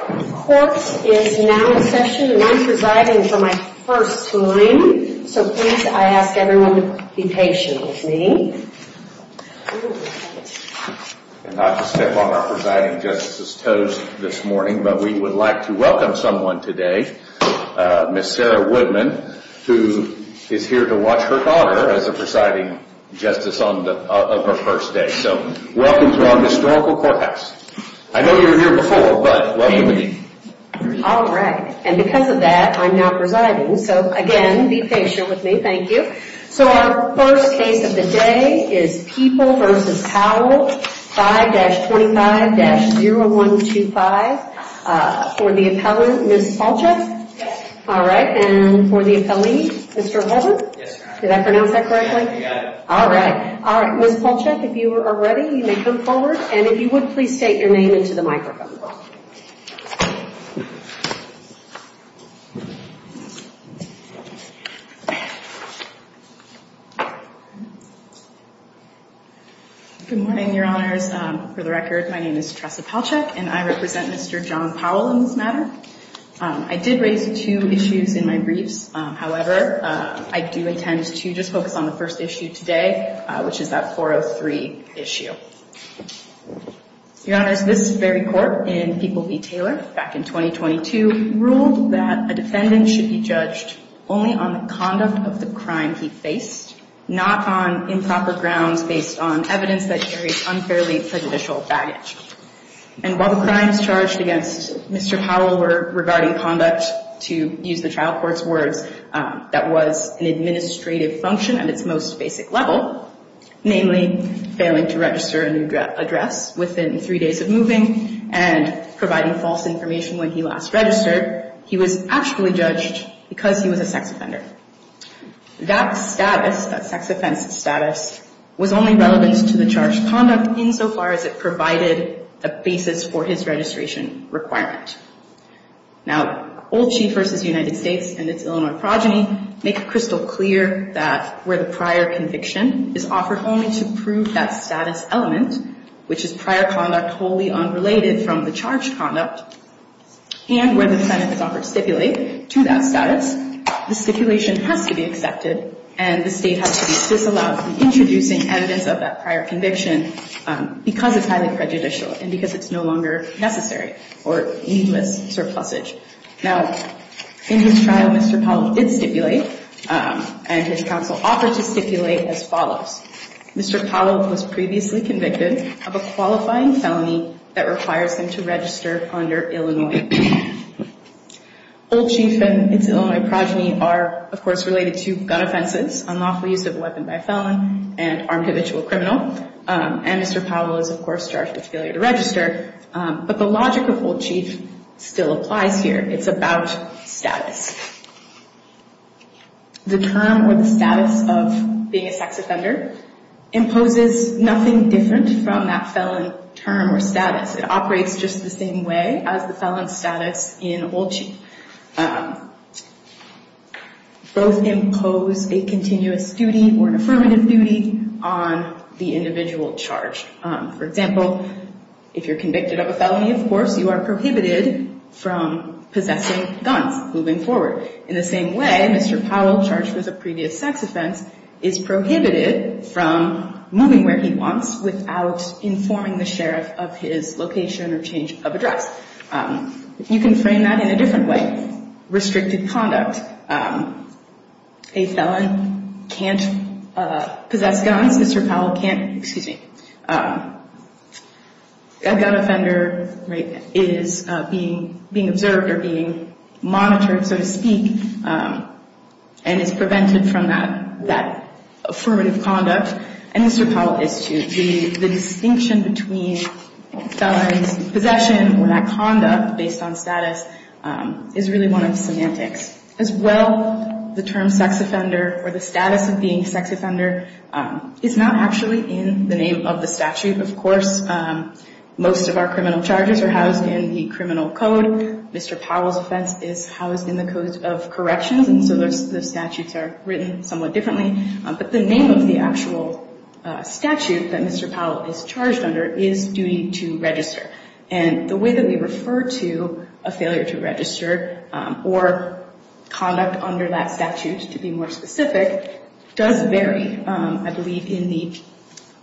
Court is now in session, and I'm presiding for my first time, so please, I ask everyone to be patient with me. And not to step on our presiding justice's toes this morning, but we would like to welcome someone today, Ms. Sarah Woodman, who is here to watch her daughter as a presiding justice of her first day. So, welcome to our historical courthouse. I know you were here before, but welcome again. All right, and because of that, I'm now presiding, so again, be patient with me, thank you. So our first case of the day is People v. Powell, 5-25-0125. For the appellant, Ms. Palchuk? Yes. All right, and for the appellee, Mr. Holden? Yes, ma'am. Did I pronounce that correctly? You got it. All right, Ms. Palchuk, if you are ready, you may come forward, and if you would, please state your name into the microphone. Good morning, Your Honors. For the record, my name is Tressa Palchuk, and I represent Mr. John Powell in this matter. I did raise two issues in my briefs. However, I do intend to just focus on the first issue today, which is that 403 issue. Your Honors, this very court in People v. Taylor back in 2022 ruled that a defendant should be judged only on the conduct of the crime he faced, not on improper grounds based on evidence that carries unfairly prejudicial baggage. And while the crimes charged against Mr. Powell were regarding conduct, to use the trial court's words, that was an administrative function at its most basic level, namely failing to register a new address within three days of moving and providing false information when he last registered, he was actually judged because he was a sex offender. That status, that sex offense status, was only relevant to the charged conduct insofar as it provided a basis for his registration requirement. Now, Old Chief v. United States and its Illinois progeny make it crystal clear that where the prior conviction is offered only to prove that status element, which is prior conduct wholly unrelated from the charged conduct, and where the defendant is offered to stipulate to that status, the stipulation has to be accepted and the state has to be disallowed from introducing evidence of that prior conviction because it's highly prejudicial and because it's no longer necessary or needless surplusage. Now, in his trial, Mr. Powell did stipulate and his counsel offered to stipulate as follows. Mr. Powell was previously convicted of a qualifying felony that requires him to register under Illinois. Old Chief and its Illinois progeny are, of course, related to gun offenses, unlawful use of a weapon by a felon, and armed habitual criminal. And Mr. Powell is, of course, charged with failure to register. But the logic of Old Chief still applies here. It's about status. The term or the status of being a sex offender imposes nothing different from that felon term or status. It operates just the same way as the felon status in Old Chief. Both impose a continuous duty or an affirmative duty on the individual charged. For example, if you're convicted of a felony, of course, you are prohibited from possessing guns moving forward. In the same way, Mr. Powell, charged with a previous sex offense, is prohibited from moving where he wants without informing the sheriff of his location or change of address. You can frame that in a different way. Restricted conduct. A felon can't possess guns. Mr. Powell can't, excuse me, a gun offender is being observed or being monitored, so to speak, and is prevented from that affirmative conduct. And Mr. Powell is too. The distinction between felon's possession or that conduct based on status is really one of the semantics. As well, the term sex offender or the status of being a sex offender is not actually in the name of the statute, of course. Most of our criminal charges are housed in the criminal code. Mr. Powell's offense is housed in the code of corrections, and so the statutes are written somewhat differently. But the name of the actual statute that Mr. Powell is charged under is duty to register. And the way that we refer to a failure to register or conduct under that statute, to be more specific, does vary. I believe in the,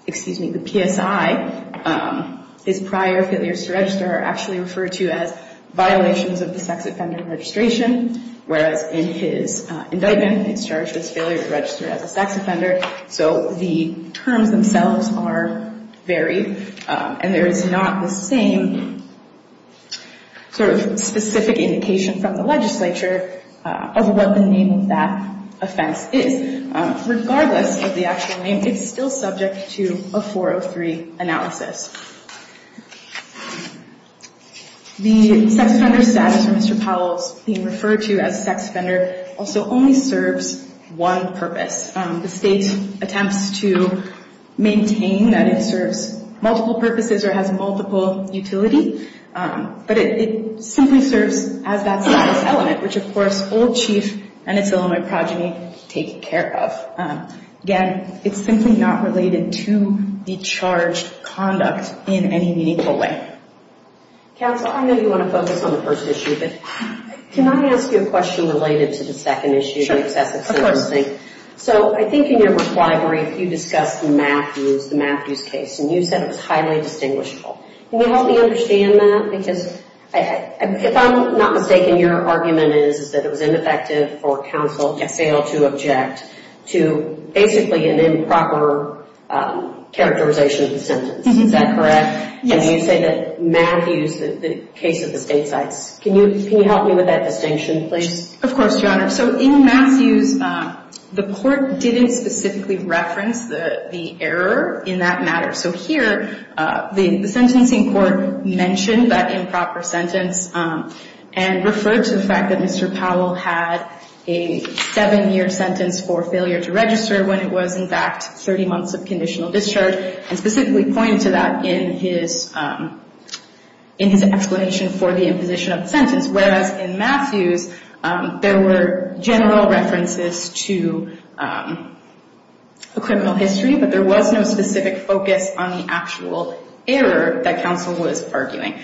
excuse me, the PSI, his prior failures to register are actually referred to as violations of the sex offender registration, whereas in his indictment, he's charged with failure to register as a sex offender. So the terms themselves are varied, and there is not the same sort of specific indication from the legislature of what the name of that offense is. Regardless of the actual name, it's still subject to a 403 analysis. The sex offender status for Mr. Powell's being referred to as a sex offender also only serves one purpose. The state attempts to maintain that it serves multiple purposes or has multiple utility, but it simply serves as that status element, which, of course, Old Chief and its Illinois progeny take care of. Again, it's simply not related to the charged conduct in any meaningful way. Counsel, I know you want to focus on the first issue, but can I ask you a question related to the second issue? So I think in your reply brief, you discussed Matthews, the Matthews case, and you said it was highly distinguishable. Can you help me understand that? Because if I'm not mistaken, your argument is that it was ineffective for counsel to fail to object to basically an improper characterization of the sentence. Is that correct? And you say that Matthews, the case of the state sites, can you help me with that distinction, please? Of course, Your Honor. So in Matthews, the court didn't specifically reference the error in that matter. So here, the sentencing court mentioned that improper sentence and referred to the fact that Mr. Powell had a seven-year sentence for failure to register when it was, in fact, 30 months of conditional discharge, and specifically pointed to that in his explanation for the imposition of the sentence. Whereas in Matthews, there were general references to a criminal history, but there was no specific focus on the actual error that counsel was arguing.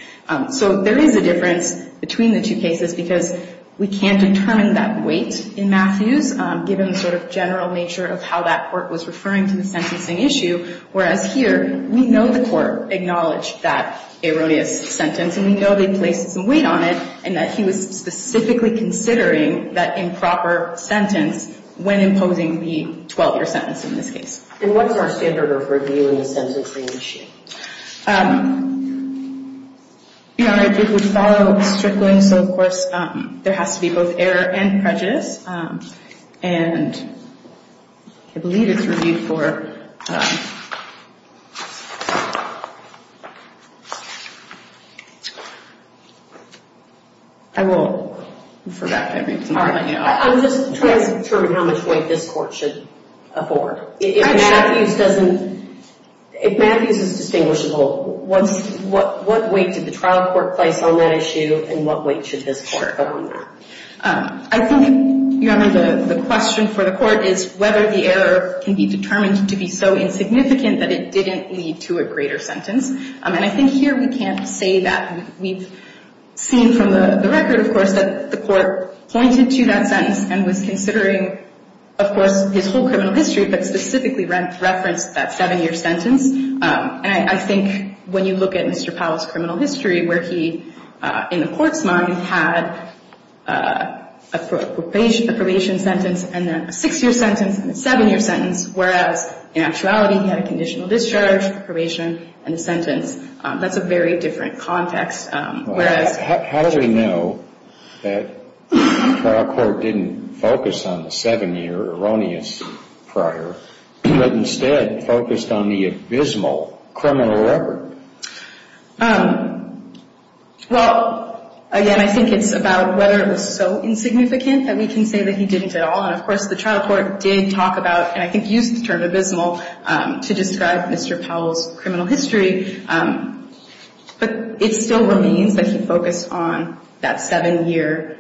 So there is a difference between the two cases because we can't determine that weight in Matthews, given the sort of general nature of how that court was referring to the sentencing issue. Whereas here, we know the court acknowledged that erroneous sentence, and we know they placed some weight on it, and that he was specifically considering that improper sentence when imposing the 12-year sentence in this case. And what's our standard of reviewing a sentencing issue? Your Honor, it would follow strictly. So, of course, there has to be both error and prejudice. And I believe it's reviewed for ‑‑ I won't refer back to everything. I'm just trying to determine how much weight this court should afford. If Matthews is distinguishable, what weight did the trial court place on that issue, and what weight should this court afford? I think, Your Honor, the question for the court is whether the error can be determined to be so insignificant that it didn't lead to a greater sentence. And I think here we can't say that. We've seen from the record, of course, that the court pointed to that sentence and was considering, of course, his whole criminal history, but specifically referenced that 7-year sentence. And I think when you look at Mr. Powell's criminal history where he, in the court's mind, had a probation sentence and then a 6-year sentence and a 7-year sentence, whereas in actuality he had a conditional discharge, probation, and a sentence, that's a very different context. How do we know that the trial court didn't focus on the 7-year erroneous prior, but instead focused on the abysmal criminal record? Well, again, I think it's about whether it was so insignificant that we can say that he didn't at all. And, of course, the trial court did talk about, and I think used the term abysmal, to describe Mr. Powell's criminal history. But it still remains that he focused on that 7-year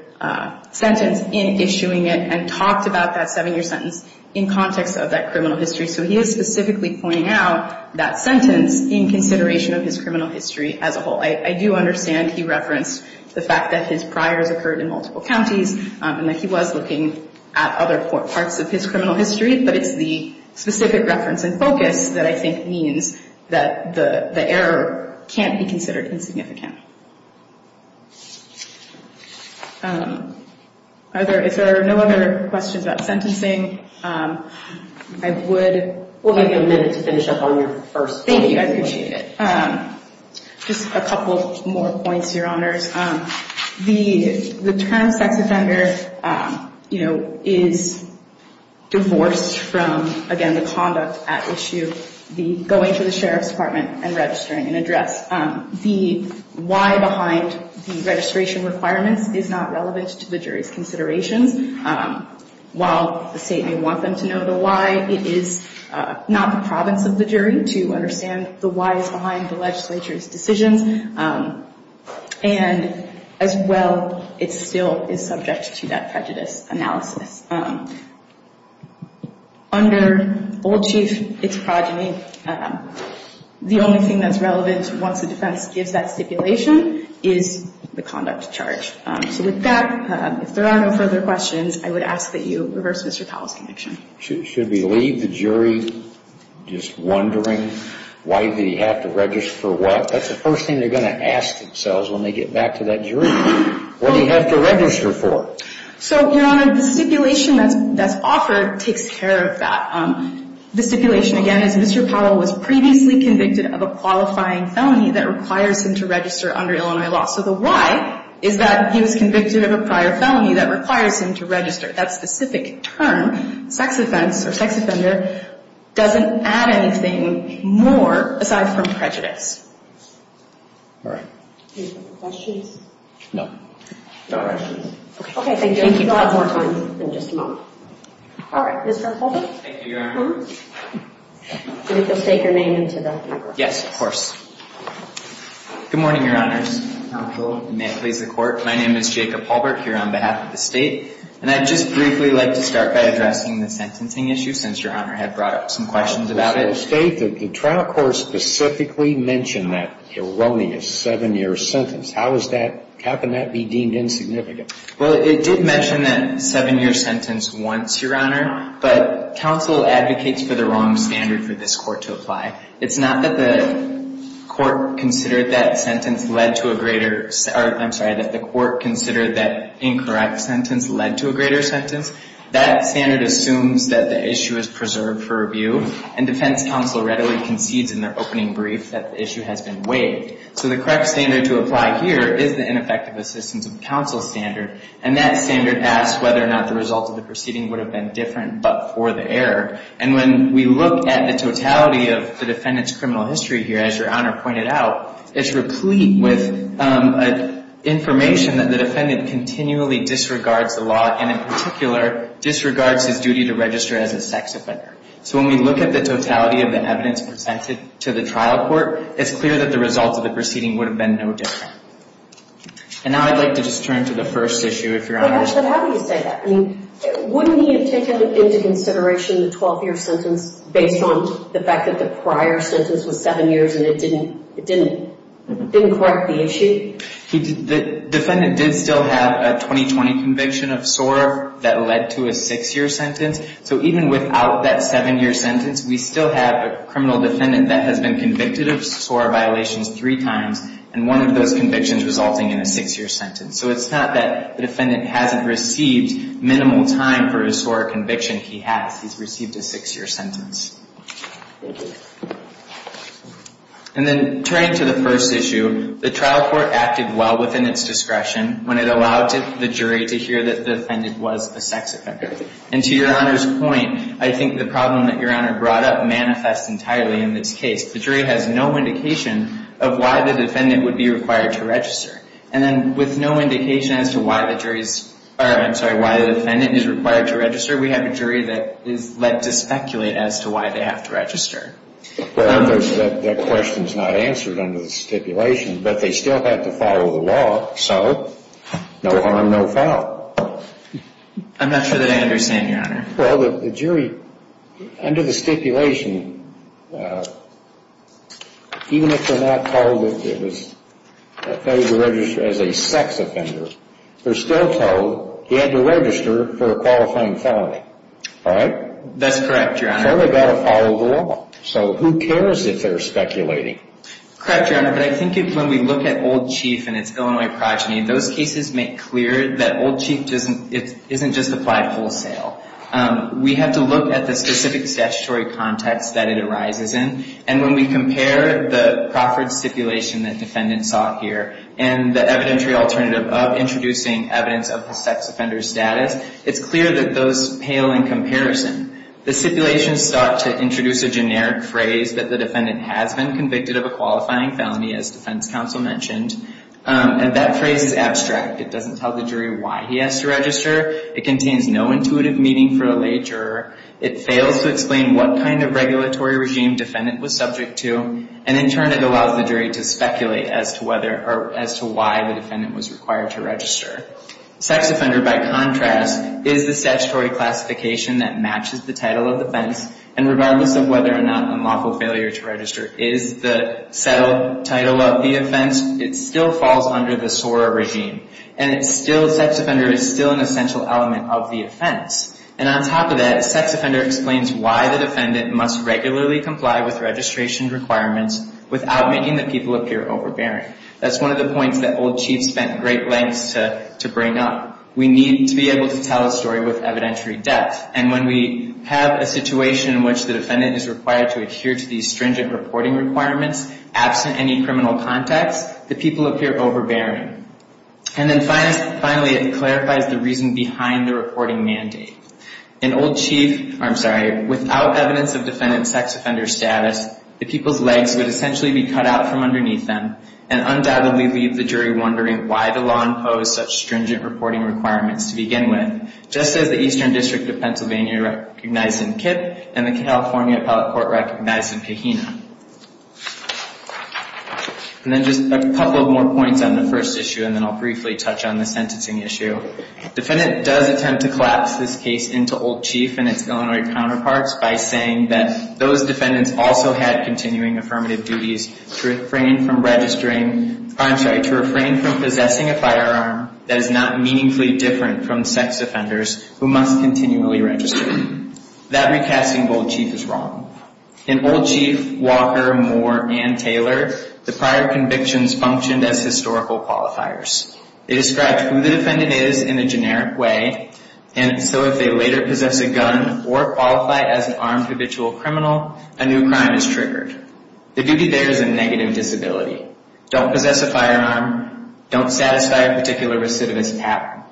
sentence in issuing it and talked about that 7-year sentence in context of that criminal history. So he is specifically pointing out that sentence in consideration of his criminal history as a whole. I do understand he referenced the fact that his priors occurred in multiple counties and that he was looking at other parts of his criminal history, but it's the specific reference and focus that I think means that the error can't be considered insignificant. If there are no other questions about sentencing, I would... We'll give you a minute to finish up on your first point. Thank you. I appreciate it. Just a couple more points, Your Honors. The term sex offender is divorced from, again, the conduct at issue, the going to the Sheriff's Department and registering an address. The why behind the registration requirements is not relevant to the jury's considerations. While the state may want them to know the why, it is not the province of the jury to understand the whys behind the legislature's decisions. And as well, it still is subject to that prejudice analysis. Under Old Chief, it's progeny. The only thing that's relevant once the defense gives that stipulation is the conduct charge. So with that, if there are no further questions, I would ask that you reverse Mr. Powell's connection. Should we leave the jury just wondering why they have to register for what? That's the first thing they're going to ask themselves when they get back to that jury. What do you have to register for? So, Your Honor, the stipulation that's offered takes care of that. The stipulation, again, is Mr. Powell was previously convicted of a qualifying felony that requires him to register under Illinois law. So the why is that he was convicted of a prior felony that requires him to register. That specific term, sex offense or sex offender, doesn't add anything more aside from prejudice. All right. Any further questions? No. No questions. Okay. Thank you. We'll have more time in just a moment. All right. Mr. Halbert. Thank you, Your Honor. I think you'll state your name and to the record. Yes, of course. Good morning, Your Honors. May it please the Court. My name is Jacob Halbert here on behalf of the State. And I'd just briefly like to start by addressing the sentencing issue, since Your Honor had brought up some questions about it. The State, the trial court specifically mentioned that erroneous seven-year sentence. How can that be deemed insignificant? Well, it did mention that seven-year sentence once, Your Honor. But counsel advocates for the wrong standard for this court to apply. It's not that the court considered that sentence led to a greater – I'm sorry, that the court considered that incorrect sentence led to a greater sentence. That standard assumes that the issue is preserved for review. And defense counsel readily concedes in their opening brief that the issue has been waived. So the correct standard to apply here is the ineffective assistance of counsel standard. And that standard asks whether or not the result of the proceeding would have been different but for the error. And when we look at the totality of the defendant's criminal history here, as Your Honor pointed out, it's replete with information that the defendant continually disregards the law and in particular disregards his duty to register as a sex offender. So when we look at the totality of the evidence presented to the trial court, it's clear that the result of the proceeding would have been no different. And now I'd like to just turn to the first issue, if Your Honor. But actually, how do you say that? I mean, wouldn't he have taken into consideration the 12-year sentence based on the fact that the prior sentence was seven years and it didn't correct the issue? The defendant did still have a 2020 conviction of SOAR that led to a six-year sentence. So even without that seven-year sentence, we still have a criminal defendant that has been convicted of SOAR violations three times and one of those convictions resulting in a six-year sentence. So it's not that the defendant hasn't received minimal time for a SOAR conviction. He has. He's received a six-year sentence. And then turning to the first issue, the trial court acted well within its discretion when it allowed the jury to hear that the defendant was a sex offender. And to Your Honor's point, I think the problem that Your Honor brought up manifests entirely in this case. The jury has no indication of why the defendant would be required to register. And then with no indication as to why the jury's – I'm sorry, why the defendant is required to register, we have a jury that is led to speculate as to why they have to register. Well, that question is not answered under the stipulation, but they still have to follow the law, so no harm, no foul. I'm not sure that I understand, Your Honor. Well, the jury, under the stipulation, even if they're not told that it was – that he was registered as a sex offender, they're still told he had to register for a qualifying felony. All right? That's correct, Your Honor. So they've got to follow the law. So who cares if they're speculating? Correct, Your Honor, but I think when we look at Old Chief and its Illinois progeny, those cases make clear that Old Chief isn't just applied wholesale. We have to look at the specific statutory context that it arises in, and when we compare the Crawford stipulation that defendants saw here and the evidentiary alternative of introducing evidence of the sex offender's status, it's clear that those pale in comparison. The stipulation sought to introduce a generic phrase that the defendant has been convicted of a qualifying felony, as defense counsel mentioned, and that phrase is abstract. It doesn't tell the jury why he has to register. It contains no intuitive meaning for a lay juror. It fails to explain what kind of regulatory regime defendant was subject to, and in turn it allows the jury to speculate as to whether – or as to why the defendant was required to register. Sex offender, by contrast, is the statutory classification that matches the title of offense, and regardless of whether or not unlawful failure to register is the settled title of the offense, it still falls under the SORA regime, and it's still – sex offender is still an essential element of the offense. And on top of that, sex offender explains why the defendant must regularly comply with registration requirements without making the people appear overbearing. That's one of the points that Old Chief spent great lengths to bring up. We need to be able to tell a story with evidentiary depth, and when we have a situation in which the defendant is required to adhere to these stringent reporting requirements, absent any criminal context, the people appear overbearing. And then finally, it clarifies the reason behind the reporting mandate. In Old Chief – I'm sorry, without evidence of defendant sex offender status, the people's legs would essentially be cut out from underneath them and undoubtedly leave the jury wondering why the law imposed such stringent reporting requirements to begin with, just as the Eastern District of Pennsylvania recognized in Kipp and the California Appellate Court recognized in Pahina. And then just a couple more points on the first issue, and then I'll briefly touch on the sentencing issue. Defendant does attempt to collapse this case into Old Chief and its Illinois counterparts by saying that those defendants also had continuing affirmative duties to refrain from registering – I'm sorry, to refrain from possessing a firearm that is not meaningfully different from sex offenders who must continually register. That recasting of Old Chief is wrong. In Old Chief, Walker, Moore, and Taylor, the prior convictions functioned as historical qualifiers. They described who the defendant is in a generic way, and so if they later possess a gun or qualify as an armed habitual criminal, a new crime is triggered. The duty there is a negative disability. Don't possess a firearm. Don't satisfy a particular recidivist pattern.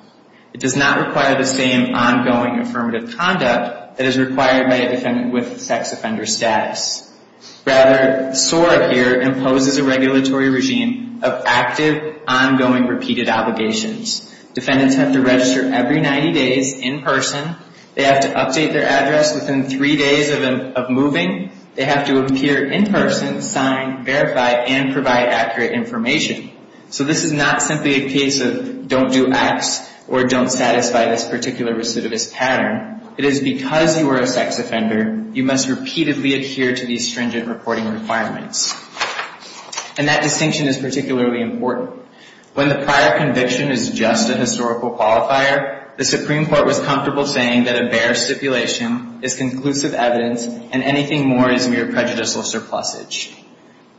It does not require the same ongoing affirmative conduct that is required by a defendant with sex offender status. Rather, SOAR here imposes a regulatory regime of active, ongoing, repeated obligations. Defendants have to register every 90 days in person. They have to update their address within three days of moving. They have to appear in person, sign, verify, and provide accurate information. So this is not simply a case of don't do X or don't satisfy this particular recidivist pattern. It is because you are a sex offender, you must repeatedly adhere to these stringent reporting requirements. And that distinction is particularly important. When the prior conviction is just a historical qualifier, the Supreme Court was comfortable saying that a bare stipulation is conclusive evidence and anything more is mere prejudicial surplusage.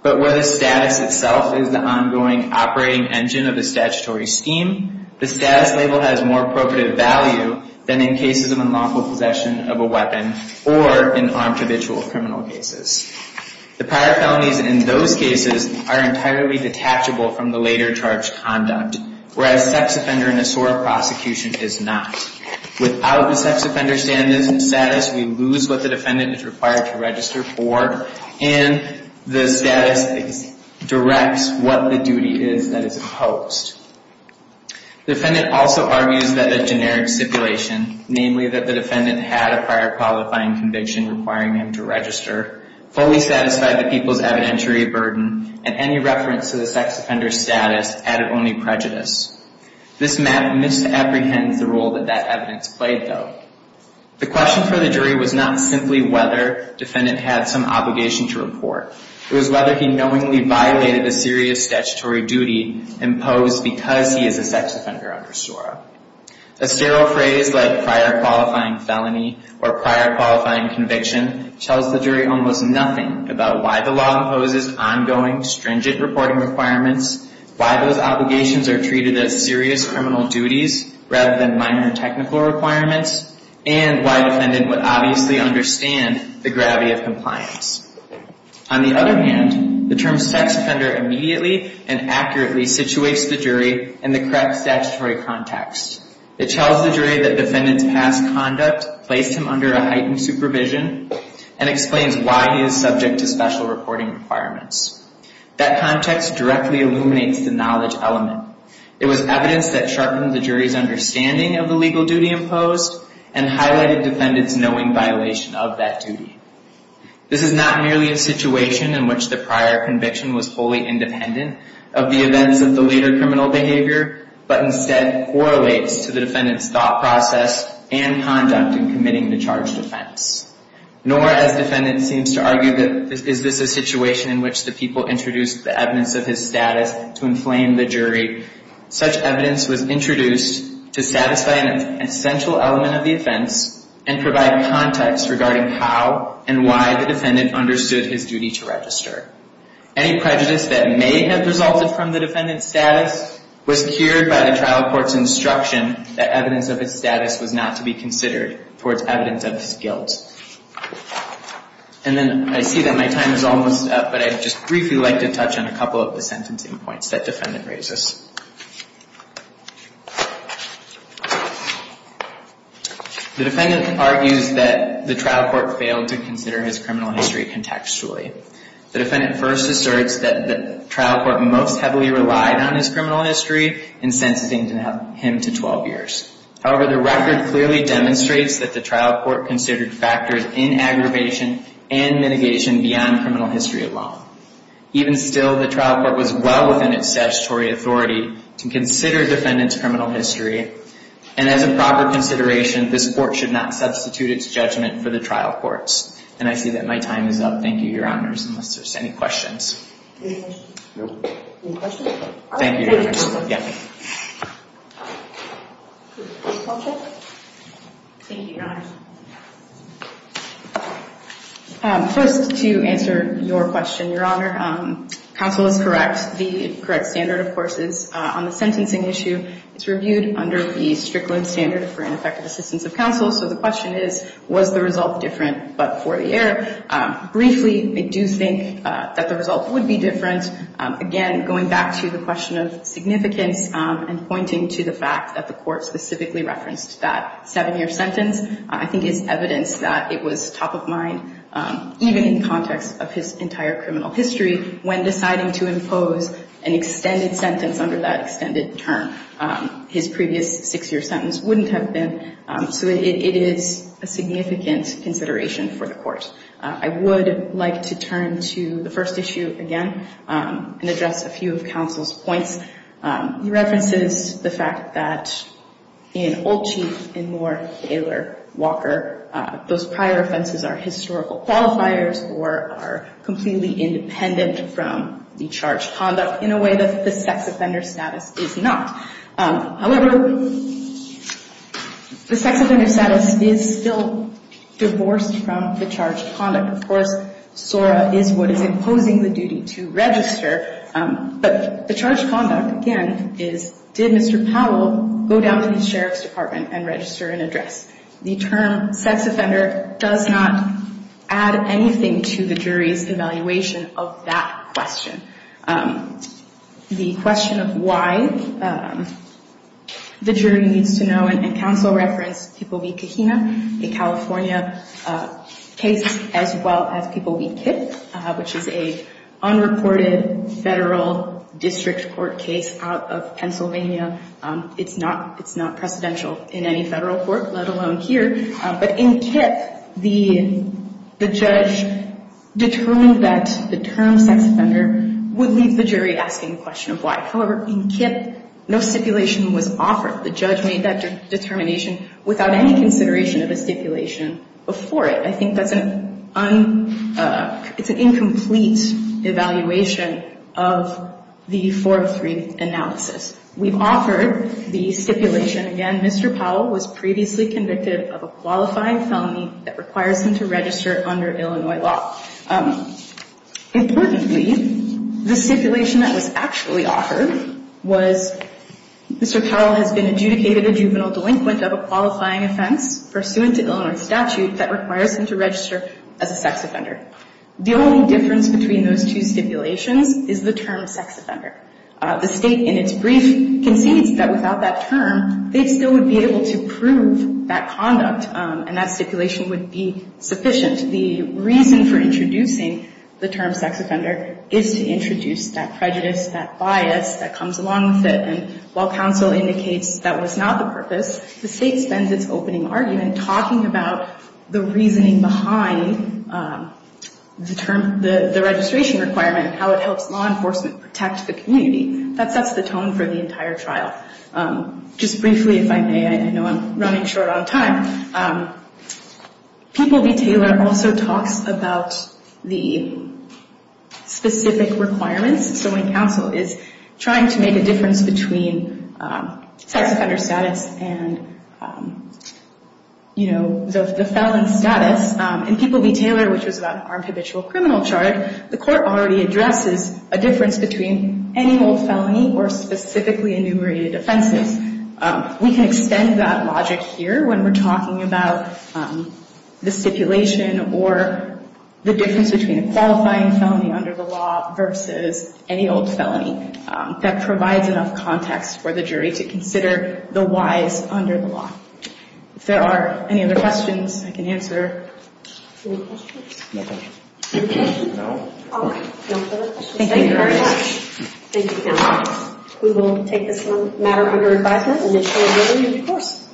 But where the status itself is the ongoing operating engine of the statutory scheme, the status label has more appropriate value than in cases of unlawful possession of a weapon or in armed habitual criminal cases. The prior felonies in those cases are entirely detachable from the later charged conduct, whereas sex offender in a SOAR prosecution is not. Without the sex offender status, we lose what the defendant is required to register for and the status directs what the duty is that is opposed. The defendant also argues that a generic stipulation, namely that the defendant had a prior qualifying conviction requiring him to register, fully satisfied the people's evidentiary burden, and any reference to the sex offender status added only prejudice. This map misapprehends the role that that evidence played, though. The question for the jury was not simply whether the defendant had some obligation to report. It was whether he knowingly violated a serious statutory duty imposed because he is a sex offender under SOAR. A sterile phrase like prior qualifying felony or prior qualifying conviction tells the jury almost nothing about why the law imposes ongoing, stringent reporting requirements, why those obligations are treated as serious criminal duties rather than minor technical requirements, and why the defendant would obviously understand the gravity of compliance. On the other hand, the term sex offender immediately and accurately situates the jury in the correct statutory context. It tells the jury that the defendant's past conduct placed him under a heightened supervision and explains why he is subject to special reporting requirements. That context directly illuminates the knowledge element. It was evidence that sharpened the jury's understanding of the legal duty imposed and highlighted the defendant's knowing violation of that duty. This is not merely a situation in which the prior conviction was fully independent of the events of the later criminal behavior, but instead correlates to the defendant's thought process and conduct in committing the charged offense. Nor, as the defendant seems to argue, is this a situation in which the people introduced the evidence of his status to inflame the jury. Such evidence was introduced to satisfy an essential element of the offense and provide context regarding how and why the defendant understood his duty to register. Any prejudice that may have resulted from the defendant's status was cured by the trial court's instruction that evidence of his status was not to be considered towards evidence of his guilt. And then I see that my time is almost up, but I'd just briefly like to touch on a couple of the sentencing points that the defendant raises. The defendant argues that the trial court failed to consider his criminal history contextually. The defendant first asserts that the trial court most heavily relied on his criminal history in sentencing him to 12 years. However, the record clearly demonstrates that the trial court considered factors in aggravation and mitigation beyond criminal history alone. Even still, the trial court was well within its statutory authority to consider a defendant's criminal history. And as a proper consideration, this court should not substitute its judgment for the trial court's. And I see that my time is up. Thank you, Your Honors. Unless there's any questions. Thank you, Your Honors. Thank you, Your Honors. First, to answer your question, Your Honor, counsel is correct. The correct standard, of course, is on the sentencing issue, it's reviewed under the Strickland standard for ineffective assistance of counsel. So the question is, was the result different but for the error? Briefly, I do think that the result would be different. Again, going back to the question of significance, and pointing to the fact that the court specifically referenced that seven-year sentence, I think it's evidence that it was top of mind, even in context of his entire criminal history, when deciding to impose an extended sentence under that extended term. His previous six-year sentence wouldn't have been, so it is a significant consideration for the court. I would like to turn to the first issue again and address a few of counsel's points. He references the fact that in Olchief, in Moore, Taylor, Walker, those prior offenses are historical qualifiers or are completely independent from the charged conduct in a way that the sex offender status is not. However, the sex offender status is still divorced from the charged conduct. Of course, SORA is what is imposing the duty to register, but the charged conduct, again, is, did Mr. Powell go down to the sheriff's department and register an address? The term sex offender does not add anything to the jury's evaluation of that question. The question of why the jury needs to know, and counsel referenced Tipovi Kahina, a California case as well as Tipovi Kip, which is an unreported federal district court case out of Pennsylvania. It's not precedential in any federal court, let alone here. But in Kip, the judge determined that the term sex offender would leave the jury asking the question of why. However, in Kip, no stipulation was offered. The judge made that determination without any consideration of a stipulation before it. I think that's an incomplete evaluation of the 403 analysis. We've offered the stipulation, again, Mr. Powell was previously convicted of a qualifying felony that requires him to register under Illinois law. Importantly, the stipulation that was actually offered was Mr. Powell has been adjudicated a juvenile delinquent of a qualifying offense pursuant to Illinois statute that requires him to register as a sex offender. The only difference between those two stipulations is the term sex offender. The State, in its brief, concedes that without that term, they still would be able to prove that conduct and that stipulation would be sufficient. The reason for introducing the term sex offender is to introduce that prejudice, that bias that comes along with it. And while counsel indicates that was not the purpose, the State spends its opening argument talking about the reasoning behind the term, the registration requirement and how it helps law enforcement protect the community. That sets the tone for the entire trial. Just briefly, if I may, I know I'm running short on time. People v. Taylor also talks about the specific requirements. So when counsel is trying to make a difference between sex offender status and, you know, the felon status, in People v. Taylor, which was about an armed habitual criminal charge, the court already addresses a difference between any old felony or specifically enumerated offenses. We can extend that logic here when we're talking about the stipulation or the difference between a qualifying felony under the law versus any old felony. That provides enough context for the jury to consider the whys under the law. If there are any other questions, I can answer. Any questions? No questions. No? All right. No further questions. Thank you very much. Thank you, counsel. We will take this matter under advisement and ensure a really good course.